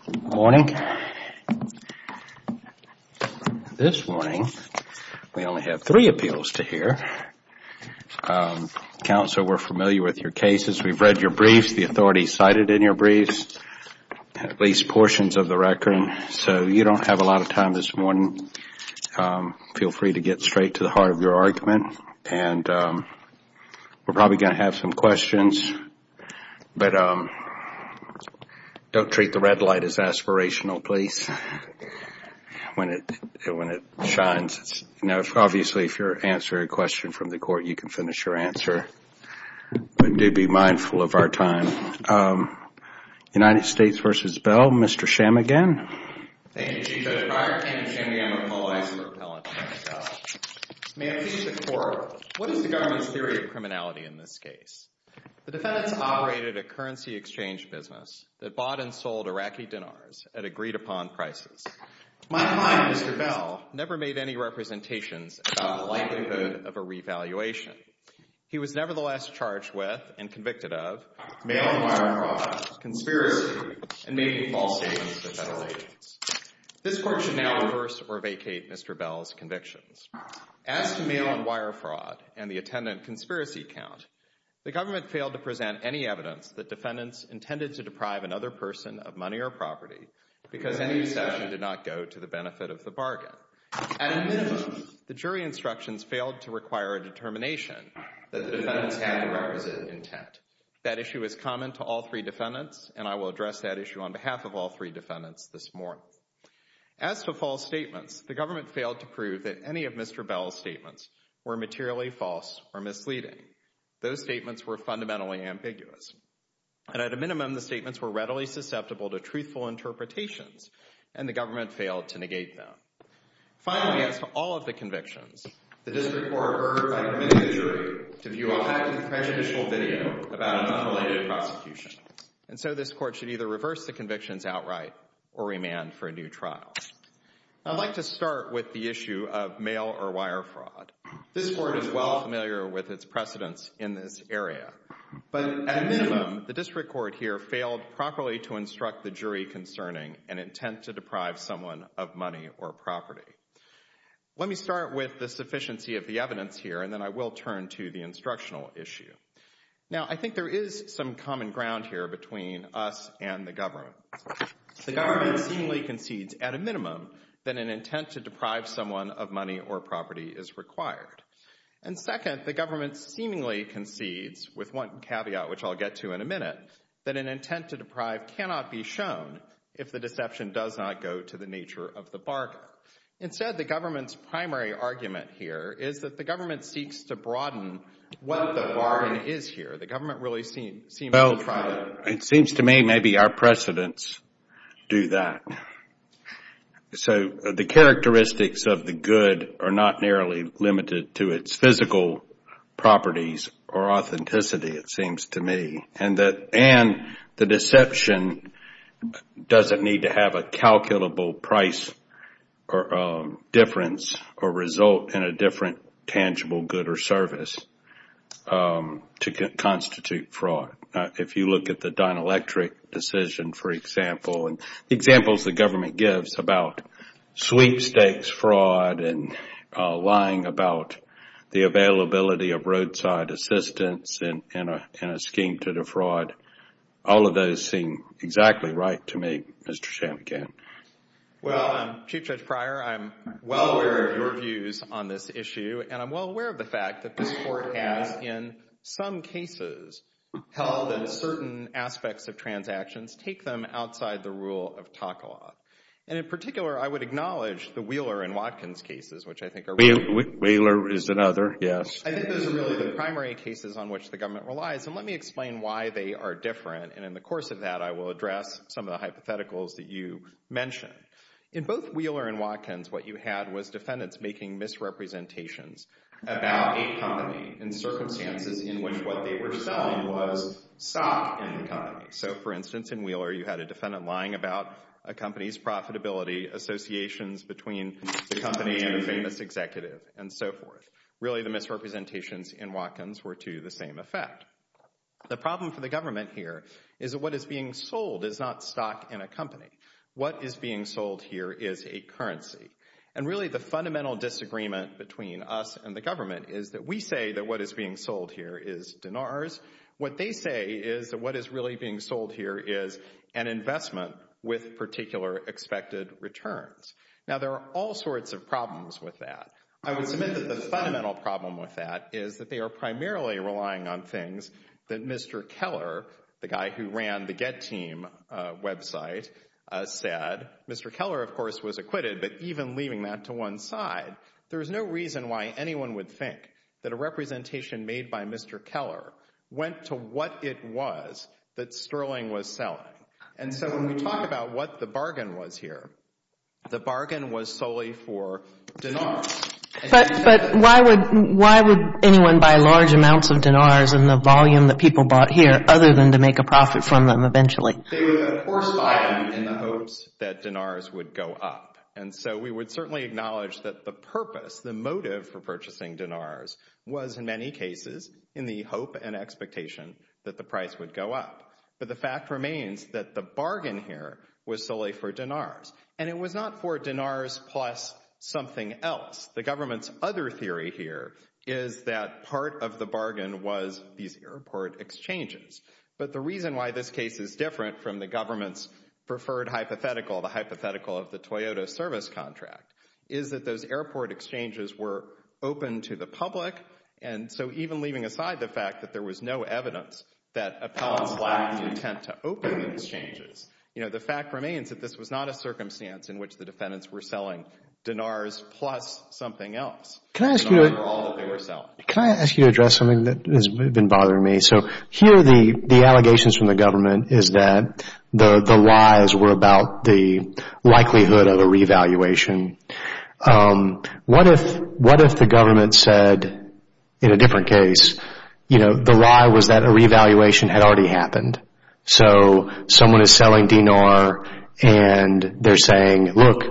Good morning. This morning, we only have three appeals to hear. Counsel, we're familiar with your cases. We've read your briefs, the authorities cited in your briefs, at least have a lot of time this morning. Feel free to get straight to the heart of your argument. We're probably going to have some questions, but don't treat the red light as aspirational, please, when it shines. Obviously, if you answer a question from the court, you can finish your answer, but do be mindful of our time. United States v. Bell, Mr. Shamagin. Thank you, Chief Judge Breyer. Thank you, Mr. Shamagin. I apologize for repelling you. May I please ask the court, what is the government's theory of criminality in this case? The defendants operated a currency exchange business that bought and sold Iraqi dinars at agreed-upon prices. My client, Mr. Bell, never made any representations about the likelihood of a mail-on-wire fraud, conspiracy, and making false statements to federal agents. This court should now reverse or vacate Mr. Bell's convictions. As to mail-on-wire fraud and the attendant conspiracy count, the government failed to present any evidence that defendants intended to deprive another person of money or property because any deception did not go to the benefit of the bargain. At a minimum, the jury instructions failed to require a determination that the I will address that issue on behalf of all three defendants this morning. As to false statements, the government failed to prove that any of Mr. Bell's statements were materially false or misleading. Those statements were fundamentally ambiguous. And at a minimum, the statements were readily susceptible to truthful interpretations, and the government failed to negate them. Finally, as to all of the convictions, the district court ordered to permit the jury to view a highly prejudicial video about an unrelated prosecution. And so this court should either reverse the convictions outright or remand for a new trial. I'd like to start with the issue of mail-on-wire fraud. This court is well familiar with its precedents in this area, but at a minimum, the district court here failed properly to instruct the jury concerning an intent to deprive someone of money or property. Let me start with the instructional issue. Now, I think there is some common ground here between us and the government. The government seemingly concedes at a minimum that an intent to deprive someone of money or property is required. And second, the government seemingly concedes, with one caveat which I'll get to in a minute, that an intent to deprive cannot be shown if the deception does not go to the nature of the bargain. Instead, the government's primary argument here is that the government seeks to broaden what the bargain is here. The government really seems to try to... Well, it seems to me maybe our precedents do that. So the characteristics of the good are not narrowly limited to its physical properties or authenticity, it seems to me. And the deception doesn't need to have a calculable price difference or result in a different tangible good or service to constitute fraud. If you look at the Dyn-Electric decision, for example, and the examples the government gives about sweepstakes fraud and lying about the availability of Well, Chief Judge Pryor, I'm well aware of your views on this issue, and I'm well aware of the fact that this Court has, in some cases, held that certain aspects of transactions take them outside the rule of Takala. And in particular, I would acknowledge the Wheeler and Watkins cases, which I think are really... Wheeler is another, yes. I think those are really the primary cases on which the government relies. And let me explain why they are different, and in the course of that, I will address some of the hypotheticals that you mentioned. In both Wheeler and Watkins, what you had was defendants making misrepresentations about a company in circumstances in which what they were selling was stock in the company. So, for instance, in Wheeler, you had a defendant lying about a company's profitability, associations between the company and a famous executive, and so forth. Really, the misrepresentations in Watkins were to the same effect. The problem for the government here is that what is being sold is not stock in a company. What is being sold here is a currency. And really, the fundamental disagreement between us and the government is that we say that what is being sold here is dinars. What they say is that what is really being sold here is an investment with particular expected returns. Now, there are all sorts of problems with that. I would submit that the fundamental problem with that is that they are primarily relying on things that Mr. Keller, the guy who ran the Geteam website, said. Mr. Keller, of course, was acquitted, but even leaving that to one side, there is no reason why anyone would think that a representation made by Mr. Keller went to what it was that Sterling was selling. And so, when we talk about what the bargain was here, the bargain was solely for dinars. But why would anyone buy large amounts of dinars in the volume that people bought here, other than to make a profit from them eventually? They would of course buy them in the hopes that dinars would go up. And so, we would certainly acknowledge that the purpose, the motive for purchasing dinars was, in many cases, in the hope and expectation that the price would go up. But the fact remains that the bargain here was solely for dinars. And it was not for dinars plus something else. The government's other theory here is that part of the bargain was these airport exchanges. But the reason why this case is different from the government's preferred hypothetical, the hypothetical of the Toyota service contract, is that those airport exchanges were open to the public. And so, even leaving aside the fact that there was no evidence that appellants lacked intent to open those exchanges, the fact remains that this was not a circumstance in which the defendants were selling dinars plus something else. Can I ask you to address something that has been bothering me? So, here the allegations from the government is that the lies were about the likelihood of a revaluation. What if the government said, in a different case, the lie was that a revaluation had already happened. So, someone is selling dinar and they're saying, look,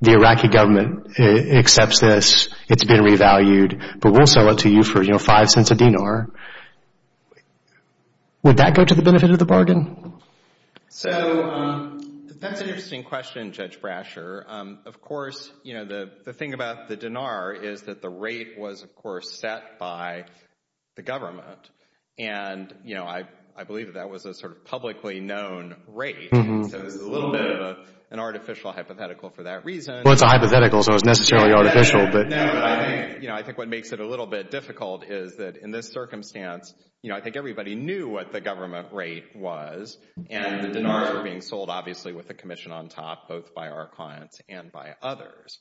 the Iraqi government accepts this. It's been revalued. But we'll sell it to you for, you know, five cents a dinar. Would that go to the benefit of the bargain? So, that's an interesting question, Judge Brasher. Of course, you know, the thing about the dinar is that the rate was, of course, set by the government. And, you know, I believe that that was a sort of publicly known rate. So, it's a little bit of an artificial hypothetical for that reason. Well, it's a hypothetical, so it's necessarily artificial. No, but I think, you know, I think what makes it a little bit difficult is that in this circumstance, you know, I think everybody knew what the government rate was. And the dinars were being sold, obviously, with a commission on top, both by our clients and by others.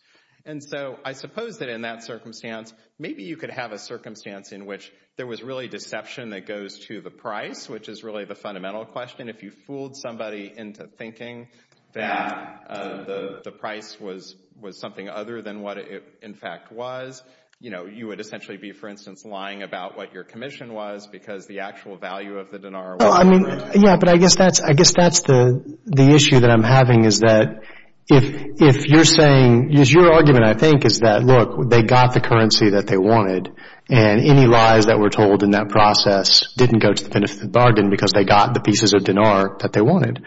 And so, I suppose that in that circumstance, maybe you could have a circumstance in which there was really deception that goes to the price, which is really the fundamental question. If you fooled somebody into thinking that the price was something other than what it, in fact, was, you know, you would essentially be, for instance, lying about what your commission was because the actual value of the dinar was different. Yeah, but I guess that's, I guess that's the issue that I'm having is that if you're saying, is your argument, I think, is that, look, they got the currency that they wanted and any lies that were told in that process didn't go to the benefit of the bargain because they got the pieces of dinar that they wanted.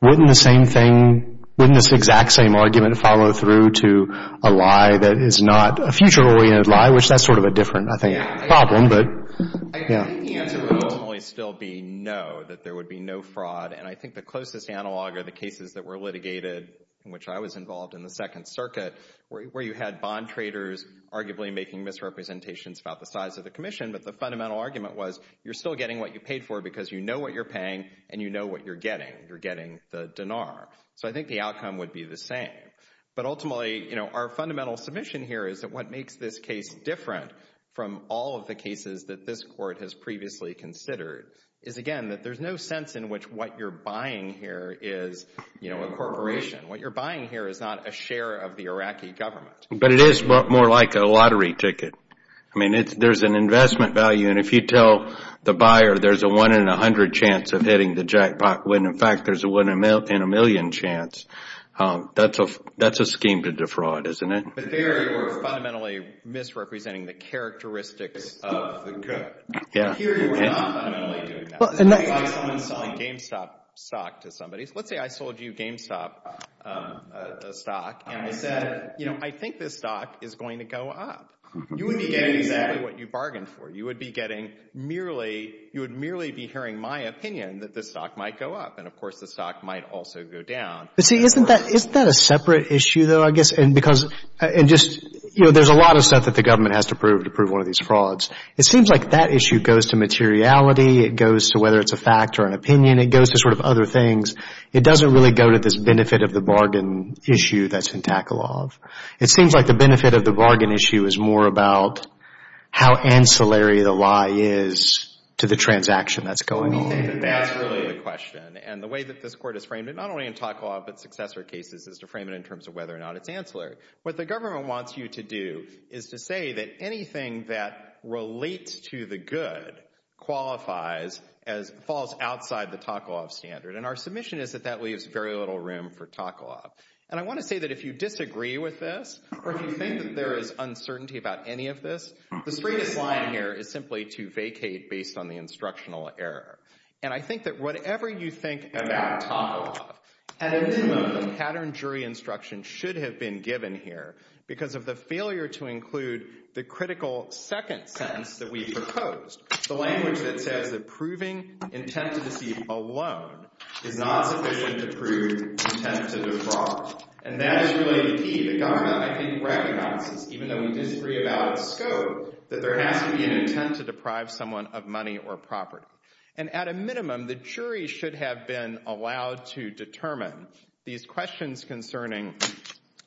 Wouldn't the same thing, wouldn't this exact same argument follow through to a lie that is not a future-oriented lie, which that's sort of a different, I think, problem. I think the answer would ultimately still be no, that there would be no fraud. And I think the closest analog are the cases that were litigated, in which I was involved in the Second Circuit, where you had bond traders arguably making misrepresentations about the size of the commission. But the fundamental argument was, you're still getting what you paid for because you know what you're paying and you know what you're getting. You're getting the dinar. So, I think the outcome would be the same. But ultimately, you know, our fundamental submission here is that what makes this case different from all of the cases that this court has previously considered is, again, that there's no sense in which what you're buying here is, you know, a corporation. What you're buying here is not a share of the Iraqi government. But it is more like a lottery ticket. I mean, there's an investment value and if you tell the buyer there's a one in a hundred chance of hitting the jackpot when, in fact, there's a one in a million chance, that's a scheme to defraud, isn't it? But there you're fundamentally misrepresenting the characteristics of the court. Yeah. Here you're not fundamentally doing that. Well, and that's... Let's say I'm selling GameStop stock to somebody. Let's say I sold you GameStop stock and I said, you know, I think this stock is going to go up. You would be getting exactly what you bargained for. You would be getting merely, you would merely be hearing my opinion that this stock might go up and, of course, the stock might also go down. But see, isn't that a separate issue though, I guess? And because, and just, you know, there's a lot of stuff that the government has to prove to prove one of these frauds. It seems like that issue goes to materiality. It goes to whether it's a fact or an opinion. It goes to sort of other things. It doesn't really go to this benefit of the bargain issue that's in Taklov. It seems like the benefit of the bargain issue is more about how ancillary the lie is to the transaction that's going on. I don't think that that's really the question. And the way that this court has framed it, not only in Taklov but successor cases, is to frame it in terms of whether or not it's ancillary. What the government wants you to do is to say that anything that relates to the good qualifies as, falls outside the Taklov standard. And our submission is that that leaves very little room for Taklov. And I want to say that if you disagree with this or if you think that there is uncertainty about any of this, the straightest line here is simply to vacate based on the instructional error. And I think that whatever you think about Taklov, an enigma of the pattern jury instruction should have been given here because of the failure to include the critical second sentence that we've proposed, the language that says that proving intent to deceive alone is not sufficient to prove intent to defraud. And that is really the key. The government, I think, recognizes, even though we disagree about scope, that there has to be an intent to deprive someone of money or property. And at a minimum, the jury should have been allowed to determine these questions concerning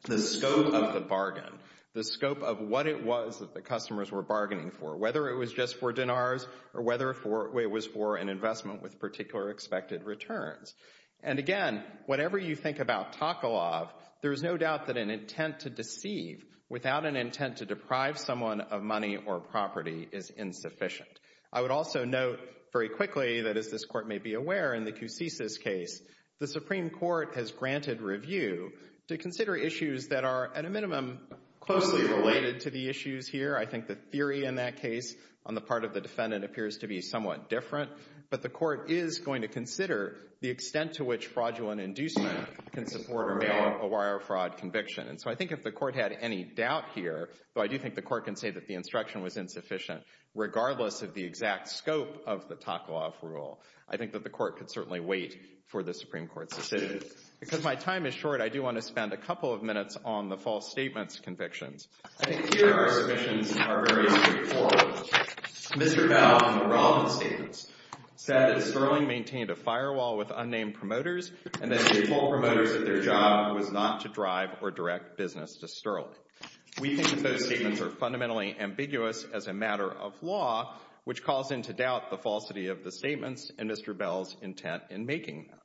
the scope of the bargain, the scope of what it was that the customers were bargaining for, whether it was just for dinars or whether it was for an investment with particular expected returns. And again, whatever you think about Taklov, there is no doubt that an intent to deceive without an intent to deprive someone of money or property is insufficient. I would also note very quickly that, as this Court may be aware, in the Coussis case, the Supreme Court has granted review to consider issues that are, at a minimum, closely related to the issues here. I think the theory in that case on the part of the defendant appears to be somewhat different. But the Court is going to consider the extent to which fraudulent inducement can support or bail a wire fraud conviction. And so I think if the Court had any doubt here, though I do think the Court can say that the instruction was insufficient, regardless of the exact scope of the Taklov rule, I think that the Court could certainly wait for the Supreme Court's decision. Because my time is short, I do want to spend a couple of minutes on the false statements convictions. I think here our submissions are very straightforward. Mr. Bell, on the Robin statements, said that Sperling maintained a firewall with unnamed promoters and that she told promoters that their job was not to drive or direct business to Sperling. We think that those statements are fundamentally ambiguous as a matter of law, which calls into doubt the falsity of the statements and Mr. Bell's intent in making them.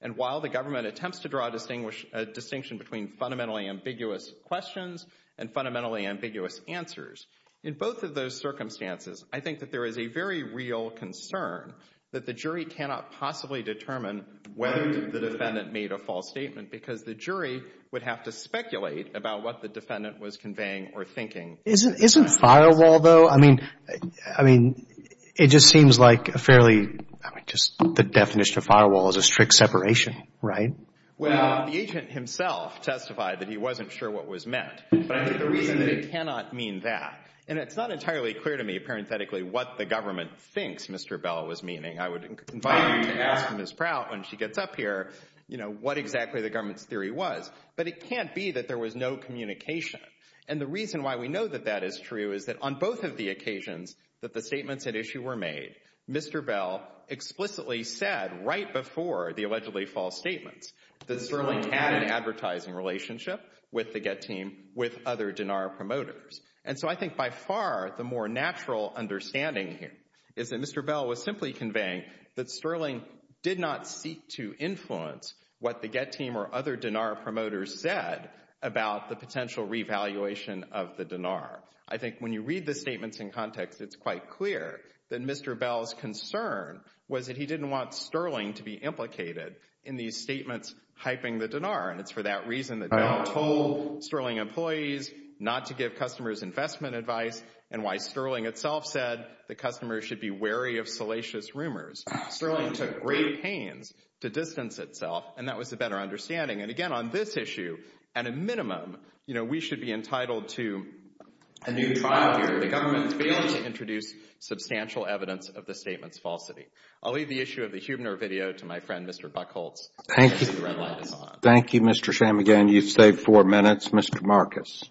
And while the government attempts to draw a distinction between fundamentally ambiguous questions and fundamentally ambiguous answers, in both of those circumstances, I think that there is a very real concern that the jury cannot possibly determine whether the defendant made a false statement because the jury would have to speculate about what the defendant was conveying or thinking. Isn't firewall, though, I mean, I mean, it just seems like a fairly, I mean, just the definition of firewall is a strict separation, right? Well, the agent himself testified that he wasn't sure what was meant. But I think the jury cannot mean that. And it's not entirely clear to me, parenthetically, what the government thinks Mr. Bell was meaning. I would invite you to ask Ms. Prout when she gets up here, you know, what exactly the government's theory was. But it can't be that there was no communication. And the reason why we know that that is true is that on both of the occasions that the statements at issue were made, Mr. Bell explicitly said right before the allegedly false statements that Sterling had an advertising relationship with the Get team, with other DENAR promoters. And so I think by far, the more natural understanding here is that Mr. Bell was simply conveying that Sterling did not seek to influence what the Get team or other DENAR promoters said about the potential revaluation of the DENAR. I think when you read the statements in context, it's quite clear that Mr. Bell's concern was that he didn't want Sterling to be implicated in these statements hyping the DENAR. And it's for that reason that Bell told Sterling employees not to give customers investment advice and why Sterling itself said the customers should be wary of salacious rumors. Sterling took great pains to distance itself, and that was a better understanding. And again, on this issue, at a minimum, you know, we should be entitled to a new trial here. The government has failed to introduce substantial evidence of the statement's falsity. I'll leave the issue of the Huebner video to my friend, Mr. Buckholz. Thank you. Thank you, Mr. Shammigan. You've saved four minutes. Mr. Marcus.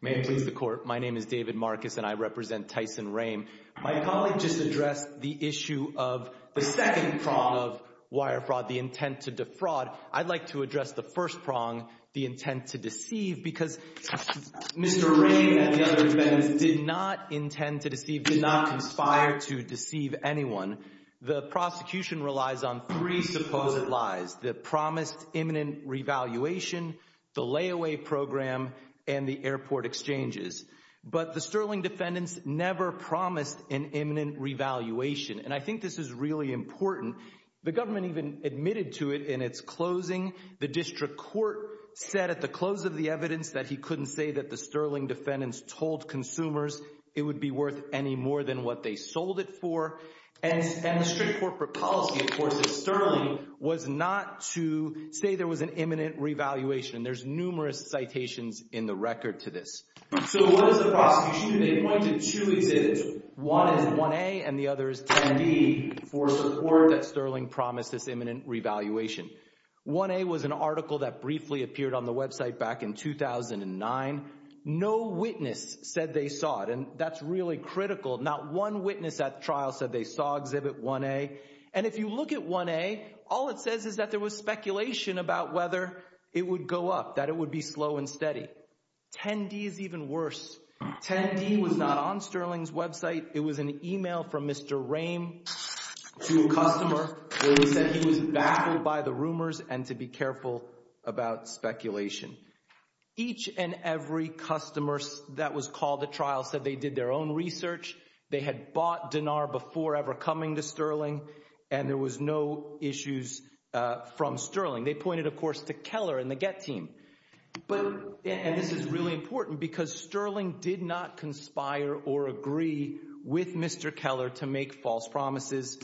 May it please the Court. My name is David Marcus, and I represent Tyson Rehm. My colleague just addressed the issue of the second prong of wire fraud, the intent to defraud. I'd like to address the first prong, the intent to deceive, because Mr. Rehm and the other defendants did not intend to deceive, did not conspire to deceive anyone. The prosecution relies on three supposed lies, the promised imminent revaluation, the layaway program, and the airport exchanges. But the Sterling defendants never promised an imminent revaluation. And I think this is really important. The government even admitted to it in its closing. The district court said at the close of the evidence that he couldn't say that the Sterling defendants told consumers it would be worth any more than what they sold it for. And the strict corporate policy, of course, of Sterling was not to say there was an imminent revaluation. There's numerous citations in the record to this. So what is the prosecution? They pointed to two exhibits. One is 1A and the other is 10D for support that Sterling promised this imminent revaluation. 1A was an article that briefly appeared on the website back in 2009. No witness said they saw it. And that's really critical. Not one witness at the trial said they saw exhibit 1A. And if you look at 1A, all it says is that there was speculation about whether it would go up, that it would be slow and even worse. 10D was not on Sterling's website. It was an email from Mr. Rehm to a customer where he said he was baffled by the rumors and to be careful about speculation. Each and every customer that was called at trial said they did their own research. They had bought Denar before ever coming to Sterling. And there was no issues from Sterling. They pointed, of course, to Keller and the Get team. And this is really important because Sterling did not conspire or agree with Mr. Keller to make false promises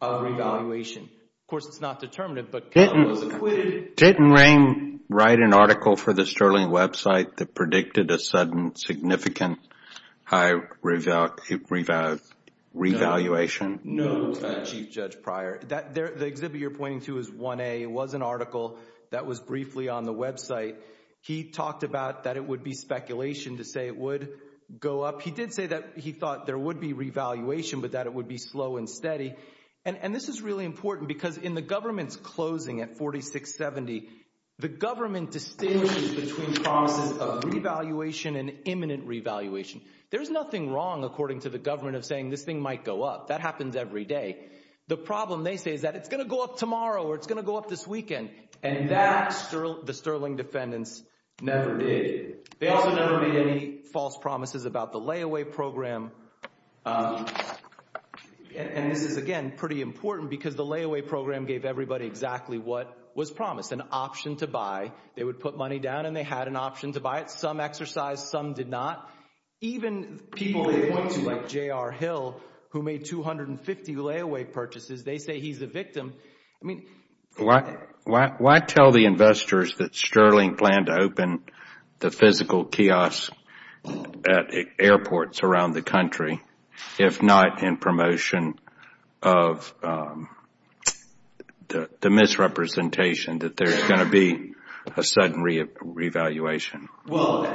of revaluation. Of course, it's not determinative, but Keller was acquitted. Didn't Rehm write an article for the Sterling website that predicted a sudden significant high revaluation? Note, Chief Judge Pryor, that the exhibit you're pointing to is 1A. It was an article that was briefly on the website. He talked about that it would be speculation to say it would go up. He did say that he thought there would be revaluation, but that it would be slow and steady. And this is really important because in the government's closing at 4670, the government distinguishes between promises of revaluation and imminent revaluation. There is nothing wrong, according to the government, of saying this thing might go up. That happens every day. The problem, they say, is that it's going to go up tomorrow or it's going to go up this weekend. And that, the Sterling defendants never did. They also never made any false promises about the layaway program. And this is, again, pretty important because the layaway program gave everybody exactly what was promised, an option to buy. They would put money down and they had an option to buy it. Some exercised, some did not. Even people they point to, like J.R. Hill, who made 250 layaway purchases, they say he's a victim. Why tell the investors that Sterling planned to open the physical kiosk at airports around the country if not in promotion of the misrepresentation that there's going to be a sudden revaluation? Well,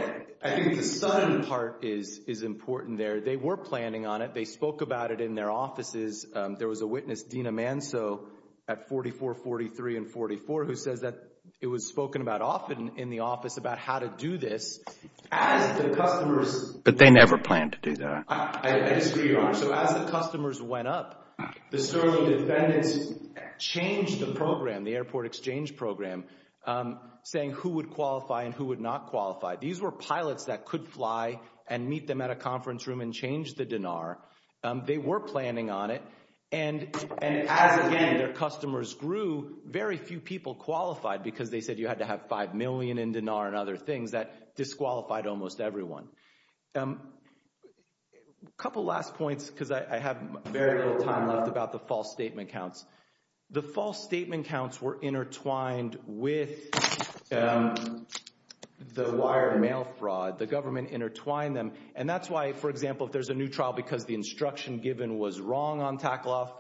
I think the sudden part is important there. They were planning on it. They spoke about it in their offices. There was a witness, Dina Manso, at 4443 and 44, who says that it was spoken about often in the office about how to do this as the customers But they never planned to do that. I disagree, Your Honor. So as the customers went up, the Sterling defendants changed the program, the airport exchange program, saying who would qualify and who would not qualify. These were pilots that could fly and meet them at a conference room and change the DINAR. They were planning on it. And as, again, their customers grew, very few people qualified because they said you had to have five million in DINAR and other things. That disqualified almost everyone. A couple last points because I have very little time left about the false statement counts. The false statement counts were intertwined with the wire mail fraud. The government intertwined them, and that's why, for example, if there's a new trial because the instruction given was wrong on TAKLOF,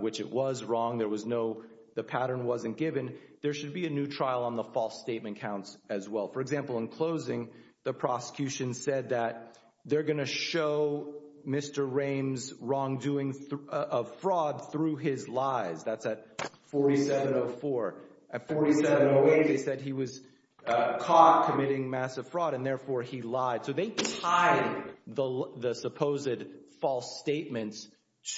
which it was wrong. There was no—the pattern wasn't given. There should be a new trial on the false statement counts as well. For example, in closing, the prosecution said that they're going to show Mr. Rame's wrongdoing of fraud through his lies. That's at 4704. At 4708, they said he was caught committing massive fraud, and therefore he lied. So they tied the supposed false statements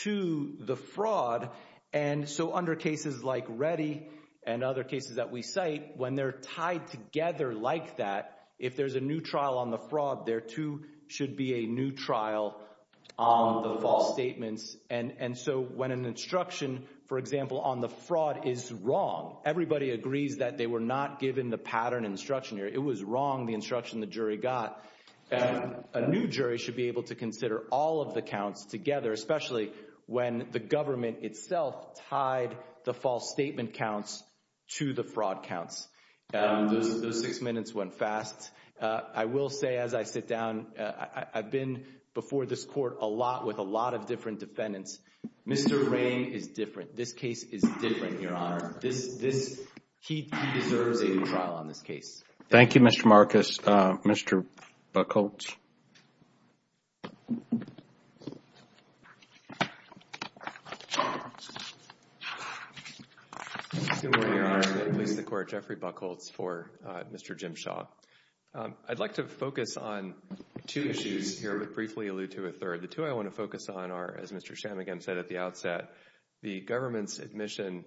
to the fraud. And so under cases like Reddy and other cases that we cite, when they're tied together like that, if there's a new trial on the fraud, there too should be a new trial on the false statements. And so when an instruction, for example, on the fraud is wrong, everybody agrees that they were not given the pattern instruction. It was wrong, the instruction the jury got. And a new jury should be able to consider all of the counts together, especially when the government itself tied the false statement counts to the fraud counts. Those six minutes went fast. I will say as I sit down, I've been before this court a lot with a lot of different defendants. Mr. Rame is different. This case is different, Your Honor. He deserves a new trial on this case. Thank you, Mr. Marcus. Mr. Buchholz. Good morning, Your Honor. I'm going to release the court, Jeffrey Buchholz, for Mr. Jim Shaw. I'd like to focus on two issues here, but briefly allude to a third. The two I want to focus on are, as Mr. Shammugam said at the outset, the government's admission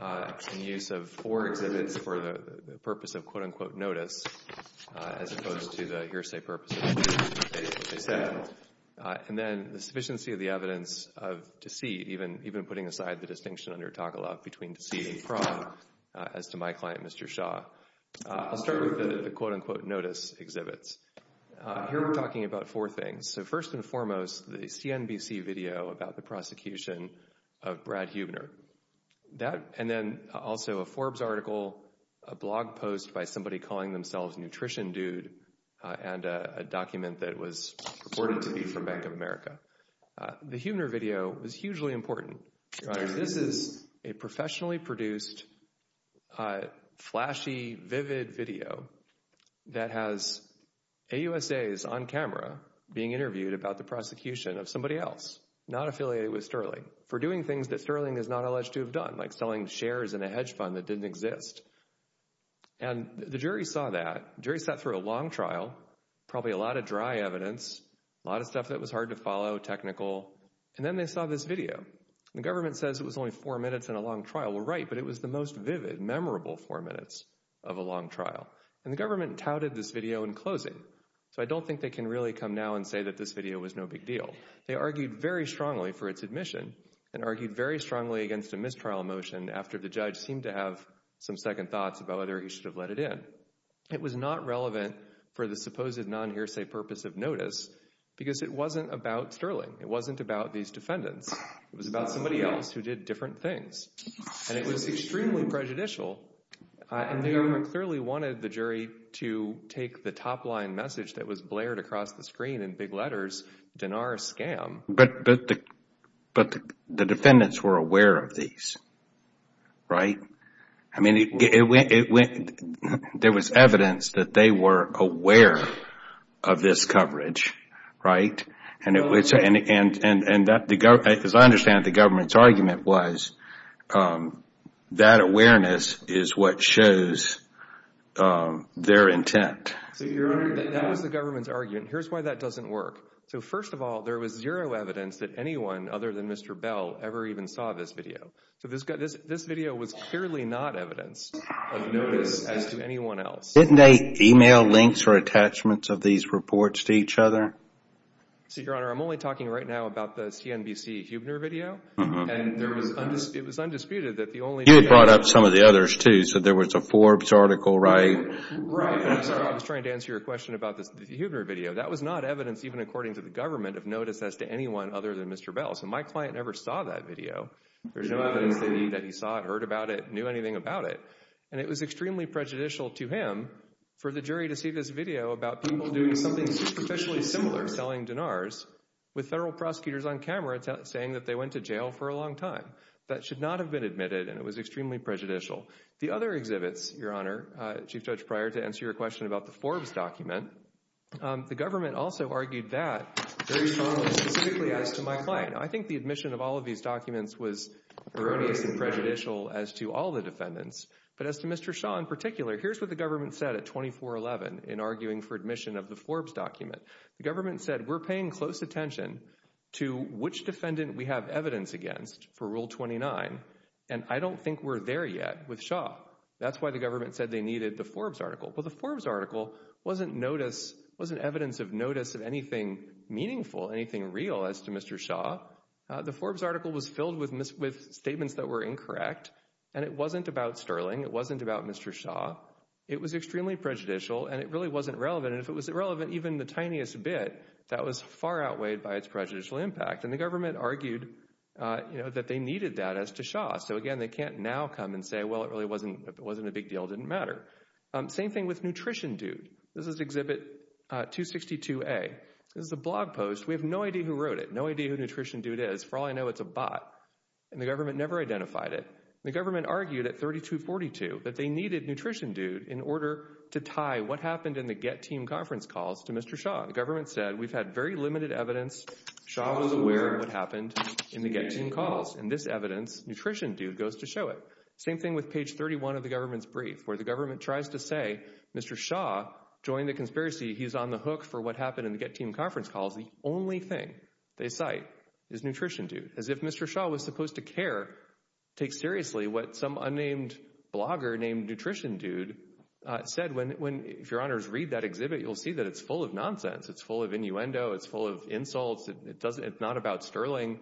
and use of four exhibits for the purpose of, quote, unquote, notice, as opposed to the hearsay purpose of what they said. And then the sufficiency of the evidence of deceit, even putting aside the distinction under Togolov between deceit and fraud, as to my client, Mr. Shaw. I'll start with the, quote, unquote, notice exhibits. Here we're talking about four things. So first and foremost, the CNBC video about the prosecution of Brad Huebner. And then also a Forbes article, a blog post by somebody calling themselves Nutrition Dude, and a document that was reported to be from Bank of America. The Huebner video was hugely important, Your Honor. This is a professionally produced, flashy, vivid video that has AUSAs on camera being interviewed about the prosecution of somebody else not affiliated with Sterling for doing things that Sterling is not alleged to have done, like selling shares in a hedge fund that didn't exist. And the jury saw that. The jury sat through a long trial, probably a lot of dry evidence, a lot of stuff that was hard to follow, technical. And then they saw this video. The government says it was only four minutes in a long trial. Well, right, but it was the most vivid, memorable four minutes of a long trial. And the government touted this video in closing. So I don't think they can really come now and say that this video was no big deal. They argued very strongly for its admission and argued very strongly against a mistrial motion after the judge seemed to have some second thoughts about whether he should have let it in. It was not relevant for the supposed non-hearsay purpose of notice because it wasn't about Sterling. It wasn't about these defendants. It was about somebody else who did different things. And it was extremely prejudicial. And the government clearly wanted the jury to take the top-line message that was blared across the screen in big letters, Dinara's scam. But the defendants were aware of these, right? I mean, there was evidence that they were aware of this coverage, right? And as I understand it, the government's argument was that awareness is what shows their intent. That was the government's argument. Here's why that doesn't work. So first of all, there was zero evidence that anyone other than Mr. Bell ever even saw this video. So this video was clearly not evidence of notice as to anyone else. Didn't they email links or attachments of these reports to each other? Your Honor, I'm only talking right now about the CNBC Huebner video. It was undisputed that the only— You had brought up some of the others too. So there was a Forbes article, right? Right. I'm sorry. I was trying to answer your question about the Huebner video. That was not evidence even according to the government of notice as to anyone other than Mr. Bell. So my client never saw that video. There's no evidence that he saw it, heard about it, knew anything about it. And it was extremely prejudicial to him for the jury to see this video about people doing something superficially similar, selling Dinara's, with federal prosecutors on camera saying that they went to jail for a long time. That should not have been admitted, and it was extremely prejudicial. The other exhibits, Your Honor, Chief Judge Pryor, to answer your question about the Forbes document, the government also argued that very strongly, specifically as to my client. I think the admission of all of these documents was erroneous and prejudicial as to all the defendants. But as to Mr. Shaw in particular, here's what the government said at 24-11 in arguing for admission of the Forbes document. The government said we're paying close attention to which defendant we have evidence against for Rule 29, and I don't think we're there yet with Shaw. That's why the government said they needed the Forbes article. Well, the Forbes article wasn't notice, wasn't evidence of notice of anything meaningful, anything real as to Mr. Shaw. The Forbes article was filled with statements that were incorrect, and it wasn't about Sterling, it wasn't about Mr. Shaw. It was extremely prejudicial, and it really wasn't relevant. And if it was irrelevant, even the tiniest bit, that was far outweighed by its prejudicial impact. And the government argued that they needed that as to Shaw. So, again, they can't now come and say, well, it really wasn't a big deal. It didn't matter. Same thing with Nutrition Dude. This is Exhibit 262A. This is a blog post. We have no idea who wrote it, no idea who Nutrition Dude is. For all I know, it's a bot, and the government never identified it. The government argued at 32-42 that they needed Nutrition Dude in order to tie what happened in the Get Team conference calls to Mr. Shaw. The government said we've had very limited evidence. Shaw was aware of what happened in the Get Team calls. In this evidence, Nutrition Dude goes to show it. Same thing with page 31 of the government's brief, where the government tries to say Mr. Shaw joined the conspiracy. He's on the hook for what happened in the Get Team conference calls. The only thing they cite is Nutrition Dude, as if Mr. Shaw was supposed to care, take seriously what some unnamed blogger named Nutrition Dude said. If your honors read that exhibit, you'll see that it's full of nonsense. It's full of innuendo. It's full of insults. It's not about Sterling.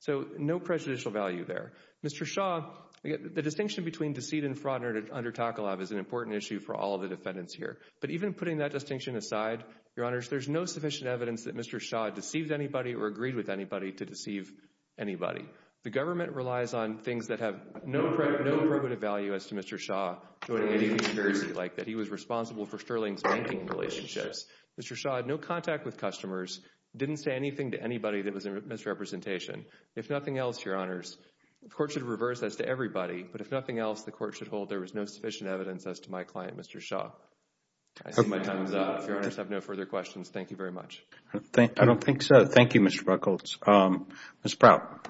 So no prejudicial value there. Mr. Shaw, the distinction between deceit and fraud under TACOLAB is an important issue for all the defendants here. But even putting that distinction aside, your honors, there's no sufficient evidence that Mr. Shaw deceived anybody or agreed with anybody to deceive anybody. The government relies on things that have no probative value as to Mr. Shaw joining any conspiracy, like that he was responsible for Sterling's banking relationships. Mr. Shaw had no contact with customers, didn't say anything to anybody that was a misrepresentation. If nothing else, your honors, the court should reverse that to everybody. But if nothing else, the court should hold there was no sufficient evidence as to my client, Mr. Shaw. I see my time is up. If your honors have no further questions, thank you very much. I don't think so. Thank you, Mr. Ruckels. Ms. Prout.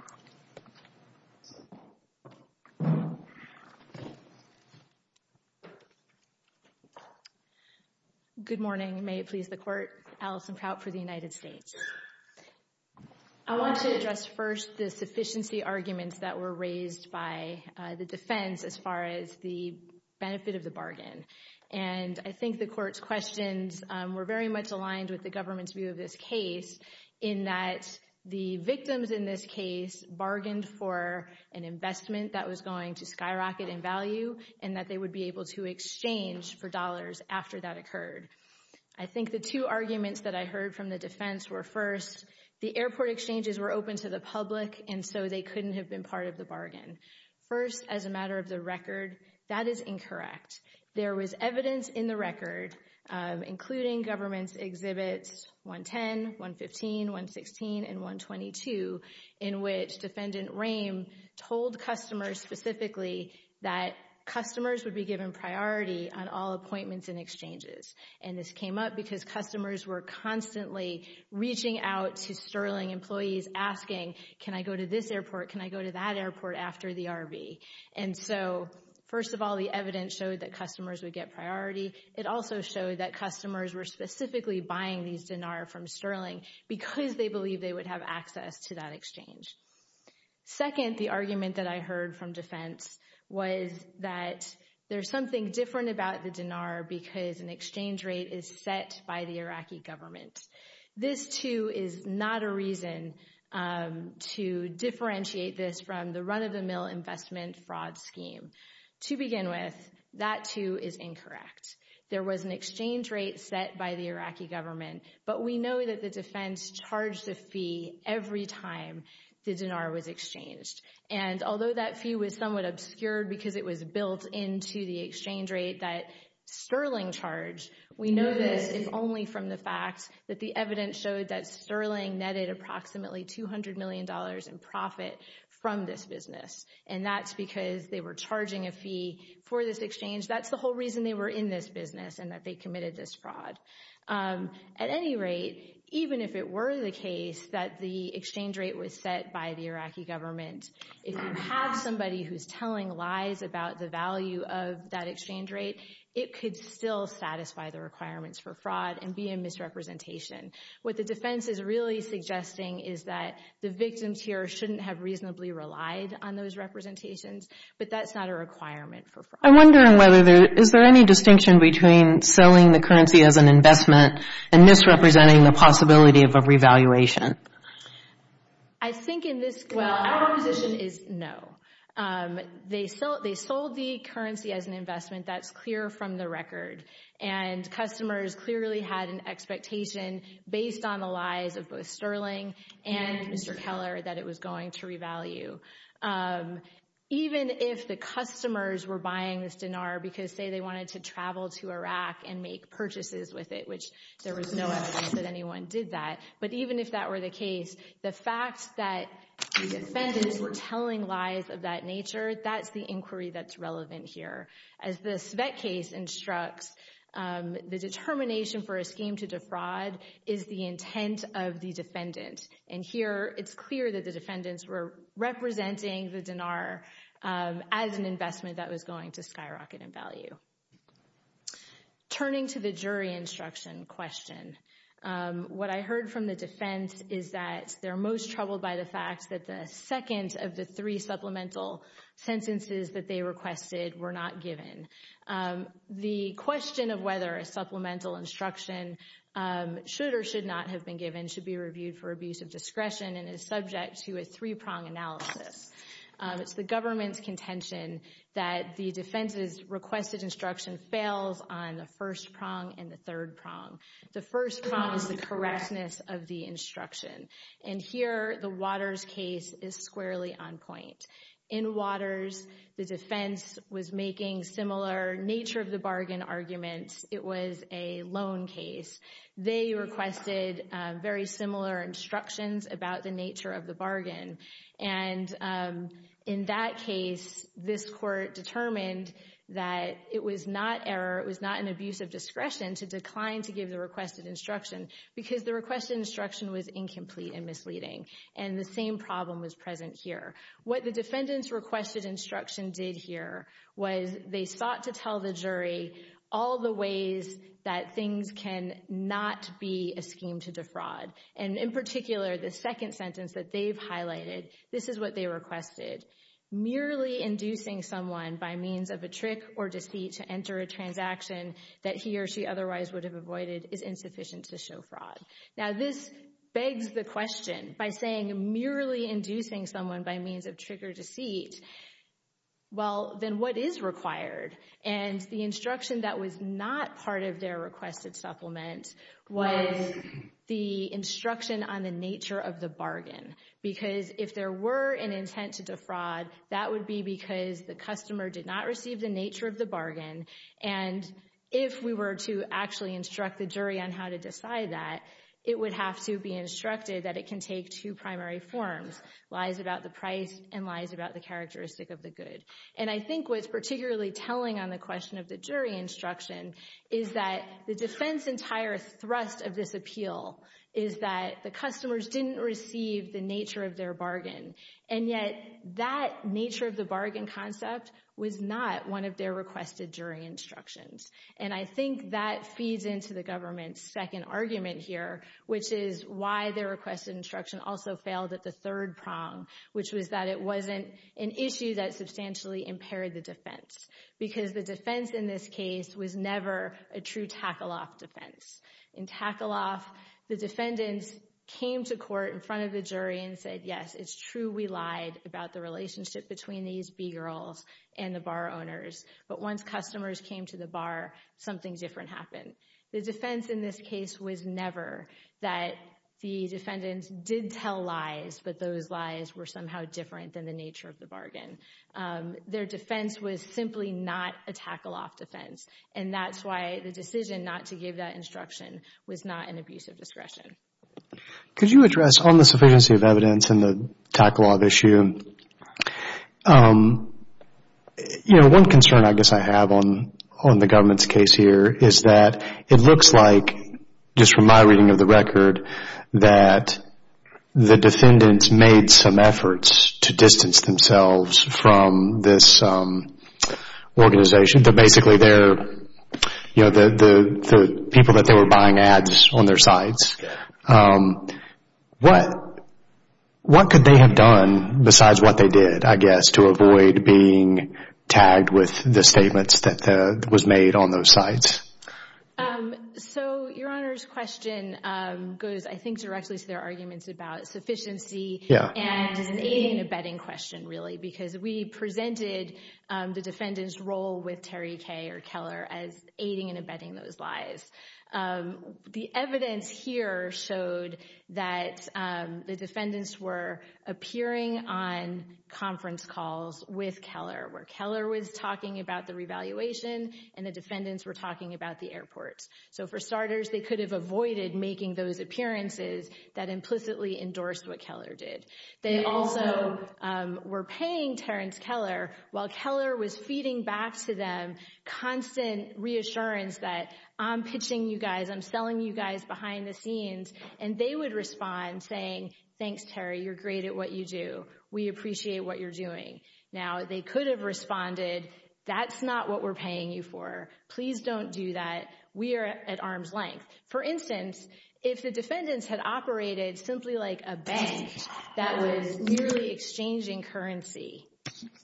Good morning. May it please the court. Allison Prout for the United States. I want to address first the sufficiency arguments that were raised by the defense as far as the benefit of the bargain. And I think the court's questions were very much aligned with the government's view of this case in that the victims in this case bargained for an investment that was going to skyrocket in value and that they would be able to exchange for dollars after that occurred. I think the two arguments that I heard from the defense were first, the airport exchanges were open to the public, and so they couldn't have been part of the bargain. First, as a matter of the record, that is incorrect. There was evidence in the record, including government's exhibits 110, 115, 116, and 122 in which Defendant Rehm told customers specifically that customers would be given priority on all appointments and exchanges. And this came up because customers were constantly reaching out to Sterling employees asking, can I go to this airport? Can I go to that airport after the RV? And so, first of all, the evidence showed that customers would get priority. It also showed that customers were specifically buying these dinars from Sterling because they believed they would have access to that exchange. Second, the argument that I heard from defense was that there's something different about the dinar because an exchange rate is set by the Iraqi government. This, too, is not a reason to differentiate this from the run-of-the-mill investment fraud scheme. To begin with, that, too, is incorrect. There was an exchange rate set by the Iraqi government, but we know that the defense charged the fee every time the dinar was exchanged. And although that fee was somewhat obscured because it was built into the exchange rate that Sterling charged, we know this if only from the fact that the evidence showed that Sterling netted approximately $200 million in profit from this business. And that's because they were charging a fee for this exchange. That's the whole reason they were in this business and that they committed this fraud. At any rate, even if it were the case that the exchange rate was set by the Iraqi government, if you have somebody who's telling lies about the value of that exchange rate, it could still satisfy the requirements for fraud and be a misrepresentation. What the defense is really suggesting is that the victims here shouldn't have reasonably relied on those representations, but that's not a requirement for fraud. I'm wondering whether there is there any distinction between selling the currency as an investment and misrepresenting the possibility of a revaluation. I think in this, well, our position is no. They sold the currency as an investment. That's clear from the record. And customers clearly had an expectation based on the lies of both Sterling and Mr. Keller that it was going to revalue. Even if the customers were buying this dinar because, say, they wanted to travel to Iraq and make purchases with it, which there was no evidence that anyone did that, but even if that were the case, the fact that the defendants were telling lies of that nature, that's the inquiry that's relevant here. As the Svet case instructs, the determination for a scheme to defraud is the intent of the defendant. And here it's clear that the defendants were representing the dinar as an investment that was going to skyrocket in value. Turning to the jury instruction question, what I heard from the defense is that they're most troubled by the fact that the second of the three supplemental sentences that they requested were not given. The question of whether a supplemental instruction should or should not have been given should be reviewed for abuse of discretion and is subject to a three-prong analysis. It's the government's contention that the defense's requested instruction fails on the first prong and the third prong. The first prong is the correctness of the instruction. And here the Waters case is squarely on point. In Waters, the defense was making similar nature of the bargain arguments. It was a loan case. They requested very similar instructions about the nature of the bargain. And in that case, this court determined that it was not error, it was not an abuse of discretion to decline to give the requested instruction because the requested instruction was incomplete and misleading. And the same problem was present here. What the defendant's requested instruction did here was they sought to tell the jury all the ways that things can not be a scheme to defraud. And in particular, the second sentence that they've highlighted, this is what they requested. Merely inducing someone by means of a trick or deceit to enter a transaction that he or she otherwise would have avoided is insufficient to show fraud. Now, this begs the question, by saying merely inducing someone by means of trick or deceit, well, then what is required? And the instruction that was not part of their requested supplement was the instruction on the nature of the bargain. Because if there were an intent to defraud, that would be because the customer did not receive the nature of the bargain. And if we were to actually instruct the jury on how to decide that, it would have to be instructed that it can take two primary forms, lies about the price and lies about the characteristic of the good. And I think what's particularly telling on the question of the jury instruction is that the defense entire thrust of this appeal is that the customers didn't receive the nature of their bargain. And yet, that nature of the bargain concept was not one of their requested jury instructions. And I think that feeds into the government's second argument here, which is why their requested instruction also failed at the third prong, which was that it wasn't an issue that substantially impaired the defense. Because the defense in this case was never a true tackle-off defense. In tackle-off, the defendants came to court in front of the jury and said, yes, it's true we lied about the relationship between these B-girls and the bar owners. But once customers came to the bar, something different happened. The defense in this case was never that the defendants did tell lies, but those lies were somehow different than the nature of the bargain. Their defense was simply not a tackle-off defense. And that's why the decision not to give that instruction was not an abuse of discretion. Could you address on the sufficiency of evidence in the tackle-off issue? One concern I guess I have on the government's case here is that it looks like, just from my reading of the record, that the defendants made some efforts to distance themselves from this organization. Basically, the people that they were buying ads on their sites. What could they have done besides what they did, I guess, to avoid being tagged with the statements that was made on those sites? Your Honor's question goes, I think, directly to their arguments about sufficiency and is an aiding and abetting question, really, because we presented the defendant's role with Terry K. or Keller as aiding and abetting those lies. The evidence here showed that the defendants were appearing on conference calls with Keller, where Keller was talking about the revaluation and the defendants were talking about the airports. So for starters, they could have avoided making those appearances that implicitly endorsed what Keller did. They also were paying Terrence Keller while Keller was feeding back to them constant reassurance that I'm pitching you guys, I'm selling you guys behind the scenes, and they would respond saying, thanks, Terry, you're great at what you do. We appreciate what you're doing. Now, they could have responded, that's not what we're paying you for. Please don't do that. We are at arm's length. For instance, if the defendants had operated simply like a bank that was merely exchanging currency,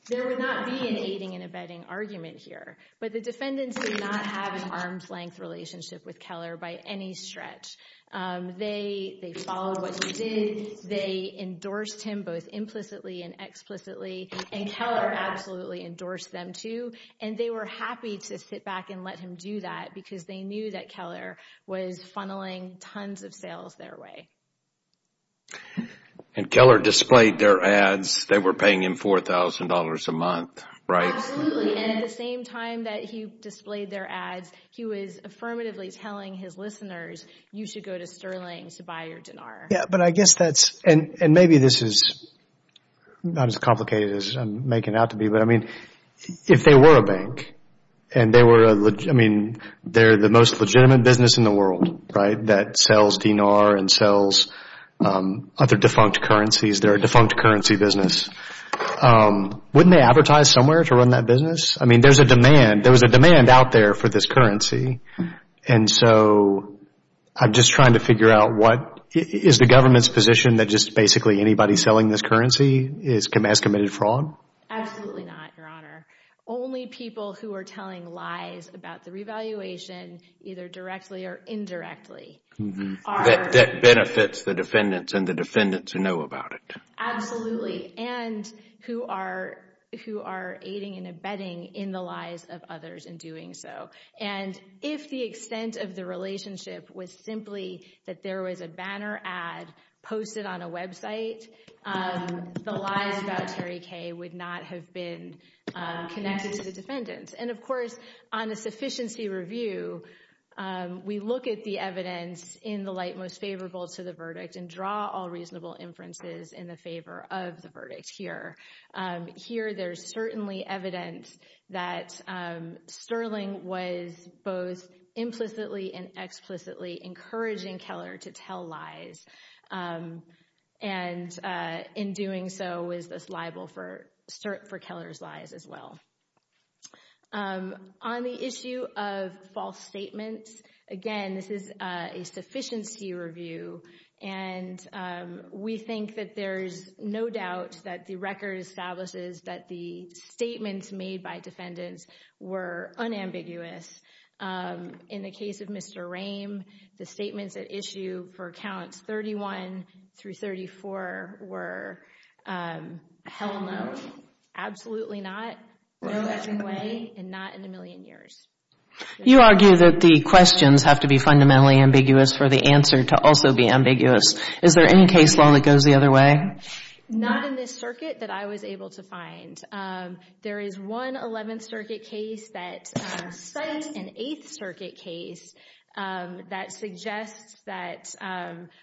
there would not be an aiding and abetting argument here, but the defendants did not have an arm's length relationship with Keller by any stretch. They followed what he did. They endorsed him both implicitly and explicitly, and Keller absolutely endorsed them, too, and they were happy to sit back and let him do that because they knew that Keller was funneling tons of sales their way. And Keller displayed their ads. They were paying him $4,000 a month, right? Absolutely, and at the same time that he displayed their ads, he was affirmatively telling his listeners, you should go to Sterling to buy your dinar. Yeah, but I guess that's, and maybe this is not as complicated as I'm making it out to be, but, I mean, if they were a bank and they were a, I mean, they're the most legitimate business in the world, right, that sells dinar and sells other defunct currencies. They're a defunct currency business. Wouldn't they advertise somewhere to run that business? I mean, there's a demand. There was a demand out there for this currency, and so I'm just trying to figure out what, is the government's position that just basically anybody selling this currency has committed fraud? Absolutely not, Your Honor. Only people who are telling lies about the revaluation, either directly or indirectly, are. That benefits the defendants and the defendants who know about it. Absolutely, and who are aiding and abetting in the lies of others in doing so. And if the extent of the relationship was simply that there was a banner ad posted on a website, the lies about Terry K. would not have been connected to the defendants. And, of course, on a sufficiency review, we look at the evidence in the light most favorable to the verdict and draw all reasonable inferences in the favor of the verdict here. Here there's certainly evidence that Sterling was both implicitly and in doing so was liable for Keller's lies as well. On the issue of false statements, again, this is a sufficiency review, and we think that there's no doubt that the record establishes that the statements made by defendants were unambiguous. In the case of Mr. Rehm, the statements at issue for counts 31 through 34 were hell no, absolutely not, no way, and not in a million years. You argue that the questions have to be fundamentally ambiguous for the answer to also be ambiguous. Is there any case law that goes the other way? Not in this circuit that I was able to find. There is one 11th Circuit case that cites an 8th Circuit case that suggests that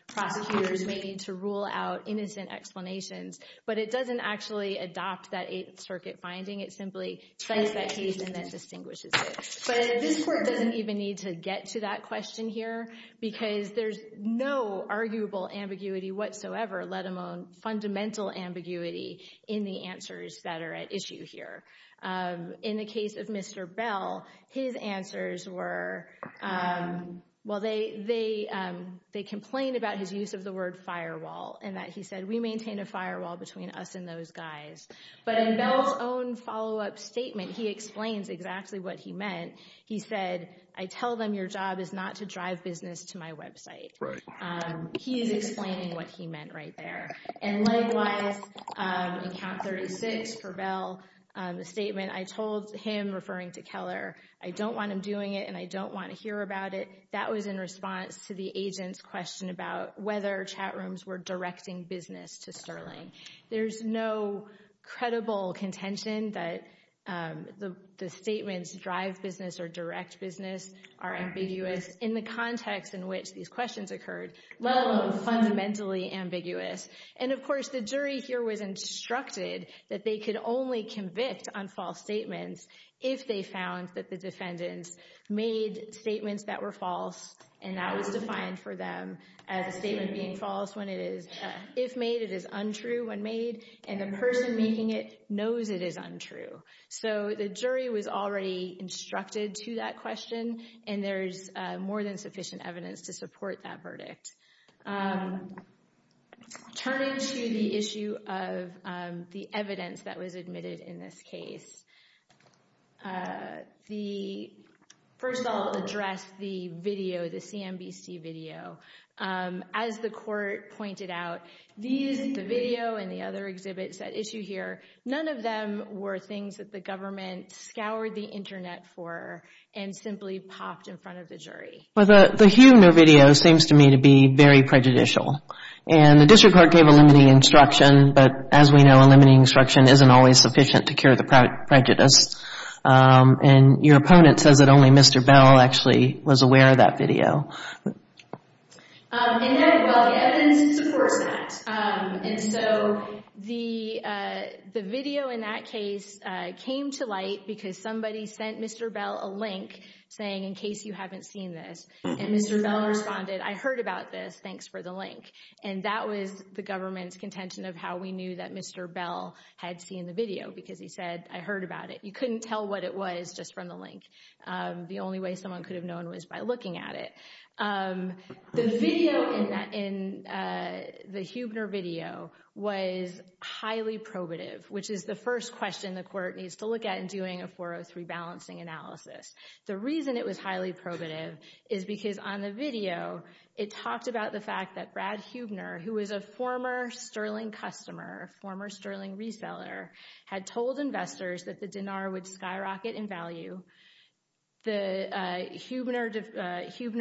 prosecutors may need to rule out innocent explanations, but it doesn't actually adopt that 8th Circuit finding. It simply cites that case and then distinguishes it. But this court doesn't even need to get to that question here because there's no arguable ambiguity whatsoever, let alone fundamental ambiguity, in the answers that are at issue here. In the case of Mr. Bell, his answers were, well, they complained about his use of the word firewall and that he said, we maintain a firewall between us and those guys. But in Bell's own follow-up statement, he explains exactly what he meant. He said, I tell them your job is not to drive business to my website. He is explaining what he meant right there. And likewise, in count 36 for Bell, the statement, I told him, referring to Keller, I don't want him doing it and I don't want to hear about it, that was in response to the agent's question about whether chat rooms were directing business to Sterling. There's no credible contention that the statements drive business or direct business are ambiguous in the context in which these questions occurred, let alone fundamentally ambiguous. And of course, the jury here was instructed that they could only convict on false statements if they found that the defendants made statements that were false and that was defined for them as a statement being false when it is. If made, it is untrue when made. And the person making it knows it is untrue. So the jury was already instructed to that question and there's more than that. Turning to the issue of the evidence that was admitted in this case, first I'll address the video, the CNBC video. As the court pointed out, the video and the other exhibits at issue here, none of them were things that the government scoured the Internet for and simply popped in front of the jury. Well, the Hue No Video seems to me to be very prejudicial. And the district court gave a limiting instruction, but as we know, a limiting instruction isn't always sufficient to cure the prejudice. And your opponent says that only Mr. Bell actually was aware of that video. And yet, well, the evidence supports that. And so the video in that case came to light because somebody sent Mr. Bell a notice and Mr. Bell responded, I heard about this, thanks for the link. And that was the government's contention of how we knew that Mr. Bell had seen the video because he said, I heard about it. You couldn't tell what it was just from the link. The only way someone could have known was by looking at it. The video in the Huebner video was highly probative, which is the first question the court needs to look at in doing a 403 balancing analysis. The reason it was highly probative is because on the video, it talked about the fact that Brad Huebner, who was a former Sterling customer, a former Sterling reseller, had told investors that the dinar would skyrocket in value. Huebner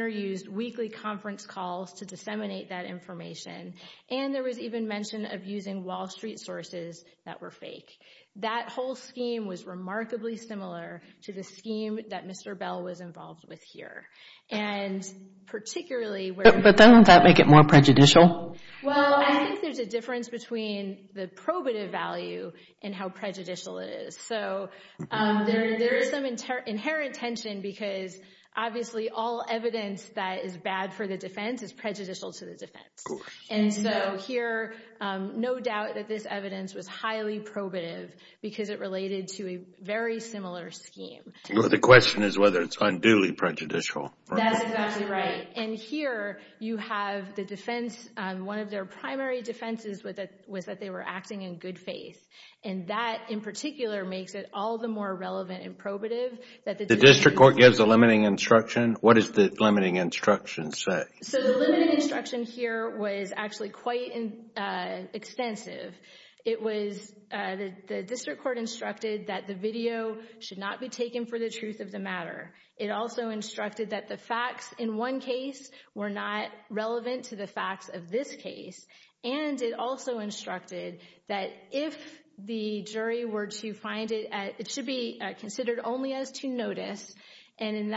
used weekly conference calls to disseminate that information. And there was even mention of using Wall Street sources that were fake. That whole scheme was remarkably similar to the scheme that Mr. Bell was involved with here. And particularly where- But doesn't that make it more prejudicial? Well, I think there's a difference between the probative value and how prejudicial it is. So there is some inherent tension because obviously all evidence that is bad for the defense is prejudicial to the defense. And so here, no doubt that this evidence was highly probative because it related to a very similar scheme. The question is whether it's unduly prejudicial. That's exactly right. And here, you have the defense, one of their primary defenses was that they were acting in good faith. And that, in particular, makes it all the more relevant and probative that the- The district court gives a limiting instruction. What does the limiting instruction say? So the limiting instruction here was actually quite extensive. It was the district court instructed that the video should not be taken for the truth of the matter. It also instructed that the facts in one case were not relevant to the facts of this case. And it also instructed that if the jury were to find it, it should be considered only as to notice. And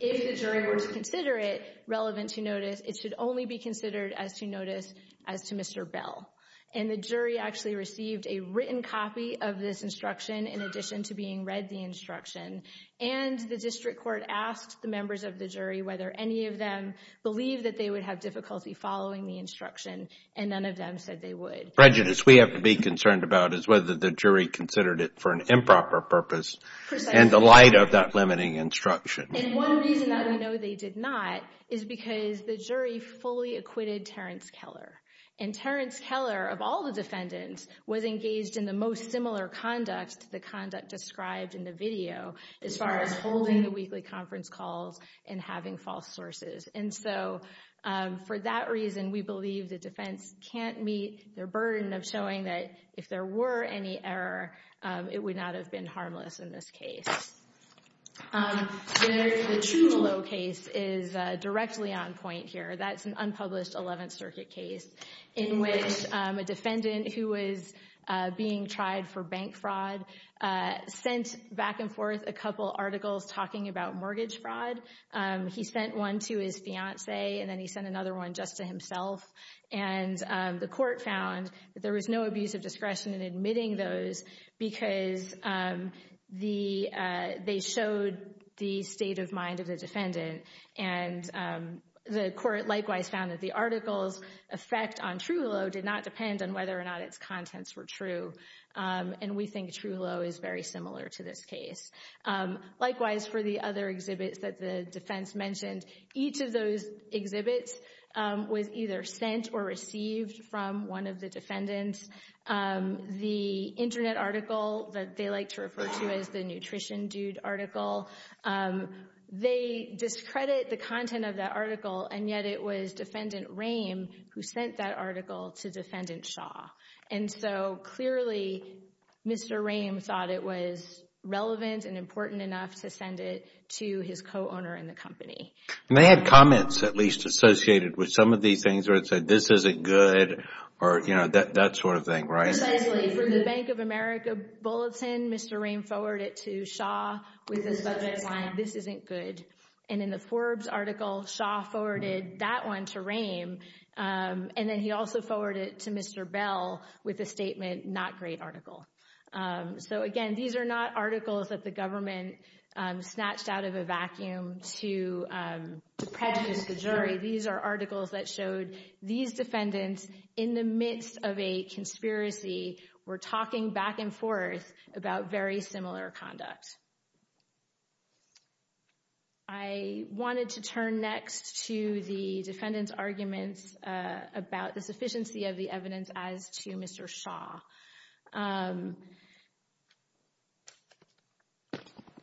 if the jury were to consider it relevant to notice, it should only be considered as to notice as to Mr. Bell. And the jury actually received a written copy of this instruction in addition to being read the instruction. And the district court asked the members of the jury whether any of them believed that they would have difficulty following the instruction, and none of them said they would. Prejudice we have to be concerned about is whether the jury considered it for an improper purpose. Precisely. In the light of that limiting instruction. And one reason that we know they did not is because the jury fully acquitted Terrence Keller. And Terrence Keller, of all the defendants, was engaged in the most similar conduct to the conduct described in the video as far as holding the weekly conference calls and having false sources. And so for that reason, we believe the defense can't meet their burden of showing that if there were any error, it would not have been harmless in this case. The Trullo case is directly on point here. That's an unpublished 11th Circuit case in which a defendant who was being tried for bank fraud sent back and forth a couple articles talking about mortgage fraud. He sent one to his fiancee, and then he sent another one just to himself. And the court found that there was no abuse of discretion in admitting those because they showed the state of mind of the defendant. And the court likewise found that the article's effect on Trullo did not depend on whether or not its contents were true. And we think Trullo is very similar to this case. Likewise, for the other exhibits that the defense mentioned, each of those exhibits was either sent or received from one of the defendants. The internet article that they like to refer to as the Nutrition Dude article, they discredit the content of that article, and yet it was Defendant Rehm who sent that article to Defendant Shaw. And so clearly, Mr. Rehm thought it was relevant and important enough to send it to his co-owner in the company. They had comments at least associated with some of these things where it says this isn't good or, you know, that sort of thing, right? Precisely. For the Bank of America Bulletin, Mr. Rehm forwarded it to Shaw with his budget line, this isn't good. And in the Forbes article, Shaw forwarded that one to Rehm, and then he also forwarded it to Mr. Bell with a statement, not great article. So, again, these are not articles that the government snatched out of a vacuum to prejudice the jury. These are articles that showed these defendants in the midst of a conspiracy were talking back and forth about very similar conduct. I wanted to turn next to the defendants' arguments about the sufficiency of the evidence as to Mr. Shaw.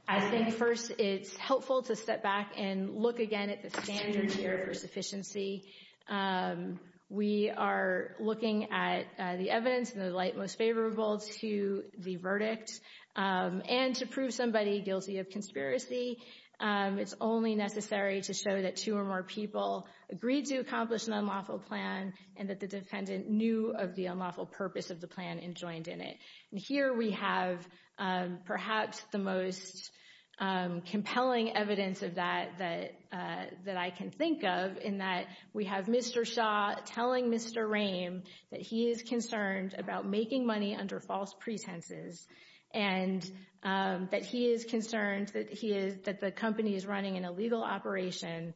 I think, first, it's helpful to step back and look again at the standards here for sufficiency. We are looking at the evidence in the light most favorable to the verdict, and to prove somebody guilty of conspiracy, it's only necessary to show that two or more people agreed to accomplish an unlawful plan and that the defendant knew of the unlawful purpose of the plan and joined in it. And here we have perhaps the most compelling evidence of that that I can think of, in that we have Mr. Shaw telling Mr. Rehm that he is concerned about making money under false pretenses and that he is concerned that the company is running an illegal operation,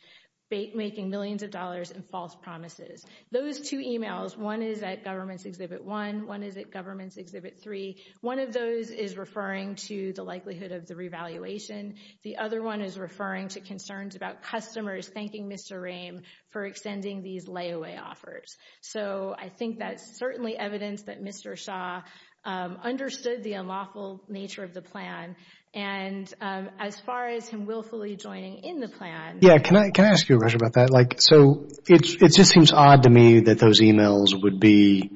making millions of dollars in false promises. Those two emails, one is at Government's Exhibit 1, one is at Government's Exhibit 3. One of those is referring to the likelihood of the revaluation. The other one is referring to concerns about customers thanking Mr. Rehm for extending these layaway offers. So I think that's certainly evidence that Mr. Shaw understood the unlawful nature of the plan, and as far as him willfully joining in the plan. Yeah, can I ask you a question about that? So it just seems odd to me that those emails would be,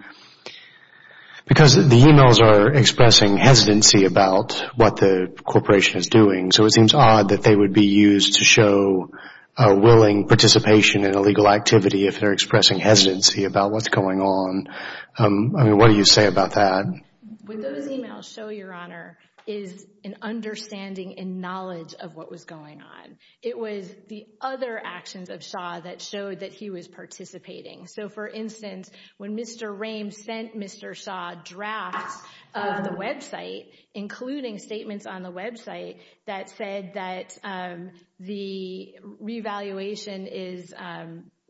because the emails are expressing hesitancy about what the corporation is doing, so it seems odd that they would be used to show a willing participation in illegal activity if they're expressing hesitancy about what's going on. I mean, what do you say about that? What those emails show, Your Honor, is an understanding and knowledge of what was going on. It was the other actions of Shaw that showed that he was participating. So, for instance, when Mr. Rehm sent Mr. Shaw drafts of the website, including statements on the website that said that the revaluation is,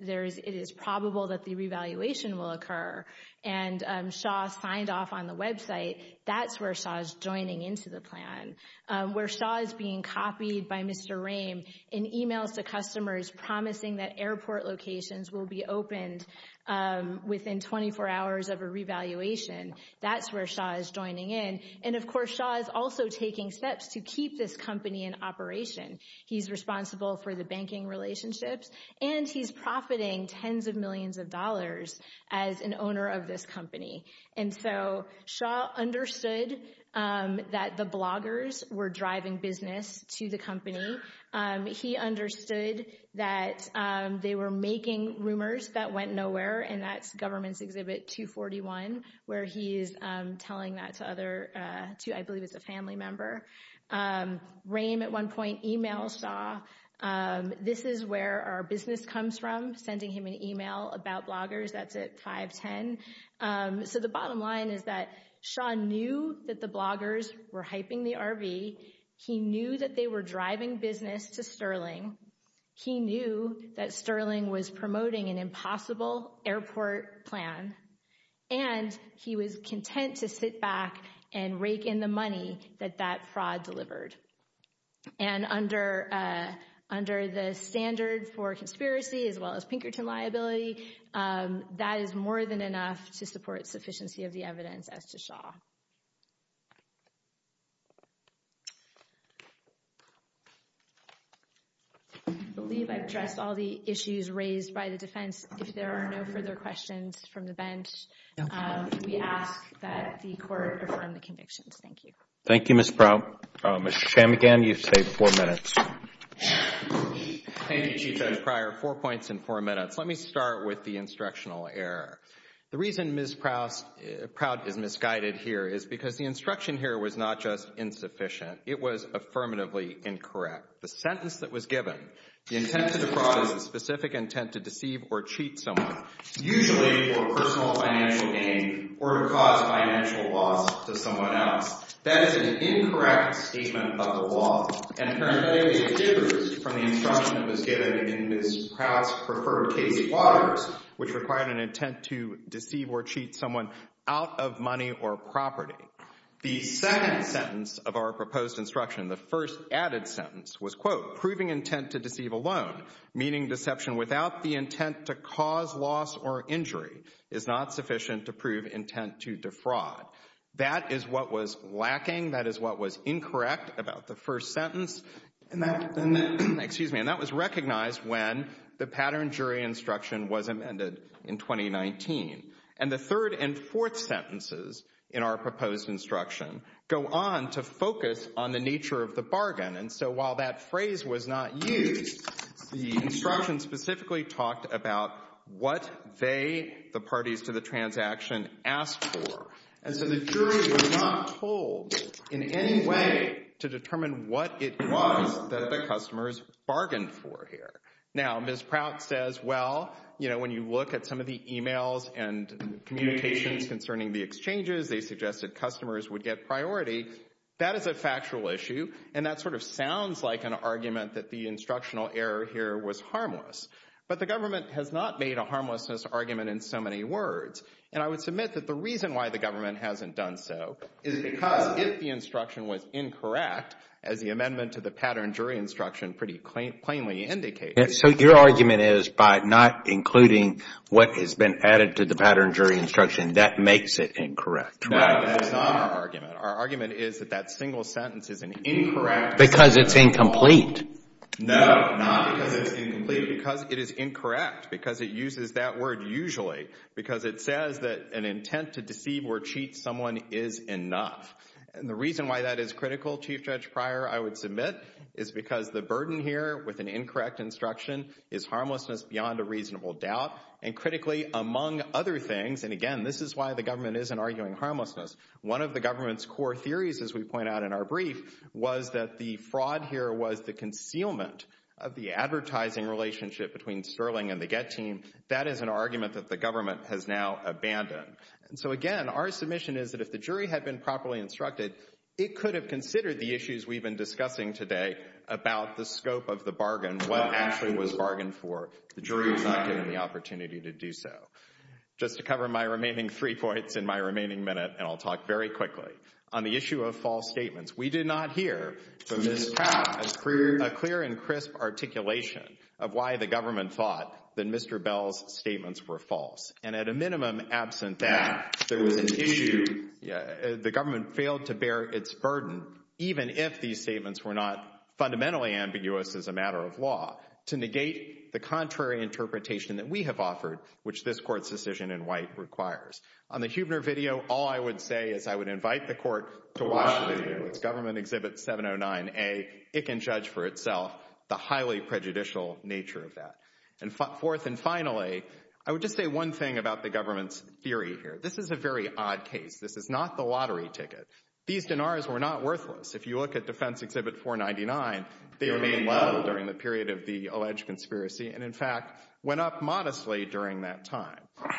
it is probable that the revaluation will occur, and Shaw signed off on the website, that's where Shaw's joining into the plan. Where Shaw is being copied by Mr. Rehm in emails to customers promising that airport locations will be opened within 24 hours of a revaluation, that's where Shaw is joining in. And, of course, Shaw is also taking steps to keep this company in operation. He's responsible for the banking relationships, and he's profiting tens of millions of dollars as an owner of this company. And so Shaw understood that the bloggers were driving business to the company. He understood that they were making rumors that went nowhere, and that's Government's Exhibit 241, where he is telling that to other, I believe it's a family member. Rehm at one point emails Shaw, this is where our business comes from, sending him an email about bloggers, that's at 510. So the bottom line is that Shaw knew that the bloggers were hyping the RV, he knew that they were driving business to Sterling, he knew that Sterling was promoting an impossible airport plan, and he was content to sit back and rake in the money that that fraud delivered. And under the standard for conspiracy as well as Pinkerton liability, that is more than enough to support sufficiency of the evidence as to Shaw. I believe I've addressed all the issues raised by the defense. If there are no further questions from the bench, we ask that the Court confirm the convictions. Thank you. Thank you, Ms. Prout. Mr. Chamigan, you've saved four minutes. Thank you, Chief Judge Pryor. Four points in four minutes. Let me start with the instructional error. The reason Ms. Prout is misguided here is because the instruction here was not just insufficient, it was affirmatively incorrect. The sentence that was given, the intent to defraud is a specific intent to deceive or cheat someone, usually for personal financial gain or to cause financial loss to someone else. That is an incorrect statement of the law, and apparently it differs from the instruction that was given in Ms. Prout's preferred case of Waters, which required an intent to deceive or cheat someone out of money or property. The second sentence of our proposed instruction, the first added sentence, was, quote, proving intent to deceive alone, meaning deception without the intent to cause loss or injury is not sufficient to prove intent to defraud. That is what was lacking. That is what was incorrect about the first sentence. And that was recognized when the pattern jury instruction was amended in 2019. And the third and fourth sentences in our proposed instruction go on to focus on the nature of the bargain. And so while that phrase was not used, the instruction specifically talked about what they, the parties to the transaction, asked for. And so the jury was not told in any way to determine what it was that the customers bargained for here. Now, Ms. Prout says, well, you know, when you look at some of the e-mails and communications concerning the exchanges, they suggested customers would get priority. That is a factual issue, and that sort of sounds like an argument that the instructional error here was harmless. But the government has not made a harmlessness argument in so many words. And I would submit that the reason why the government hasn't done so is because if the instruction was incorrect, as the amendment to the pattern jury instruction pretty plainly indicates. So your argument is by not including what has been added to the pattern jury instruction, that makes it incorrect. No, that is not our argument. Our argument is that that single sentence is an incorrect. Because it's incomplete. No, not because it's incomplete. Because it is incorrect. Because it uses that word usually. Because it says that an intent to deceive or cheat someone is enough. And the reason why that is critical, Chief Judge Pryor, I would submit, is because the burden here with an incorrect instruction is harmlessness beyond a reasonable doubt. And critically, among other things, and again, this is why the government isn't arguing harmlessness. One of the government's core theories, as we point out in our brief, was that the fraud here was the concealment of the advertising relationship between Sterling and the Get team. That is an argument that the government has now abandoned. And so, again, our submission is that if the jury had been properly instructed, it could have considered the issues we've been discussing today about the scope of the bargain, what actually was bargained for. The jury was not given the opportunity to do so. Just to cover my remaining three points in my remaining minute, and I'll talk very quickly, on the issue of false statements, we did not hear from Ms. Powell a clear and crisp articulation of why the government thought that Mr. Bell's statements were false. And at a minimum, absent that, the government failed to bear its burden, even if these statements were not fundamentally ambiguous as a matter of law, to negate the contrary interpretation that we have offered, which this court's decision in white requires. On the Huebner video, all I would say is I would invite the court to watch the video. It's Government Exhibit 709A. It can judge for itself the highly prejudicial nature of that. And fourth and finally, I would just say one thing about the government's theory here. This is a very odd case. This is not the lottery ticket. These dinars were not worthless. If you look at Defense Exhibit 499, they remained level during the period of the alleged conspiracy and, in fact, went up modestly during that time.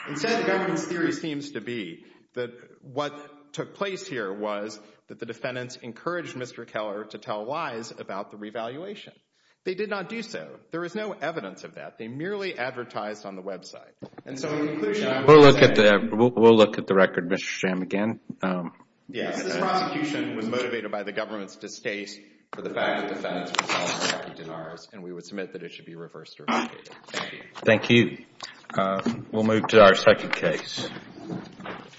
Instead, the government's theory seems to be that what took place here was that the defendants encouraged Mr. Keller to tell lies about the revaluation. They did not do so. There is no evidence of that. They merely advertised on the website. And so, in conclusion, I would say— We'll look at the record, Mr. Sham, again. Yes, this prosecution was motivated by the government's distaste for the fact that defendants were selling lottery dinars, and we would submit that it should be reversed or revalidated. Thank you. Thank you. We'll move to our second case.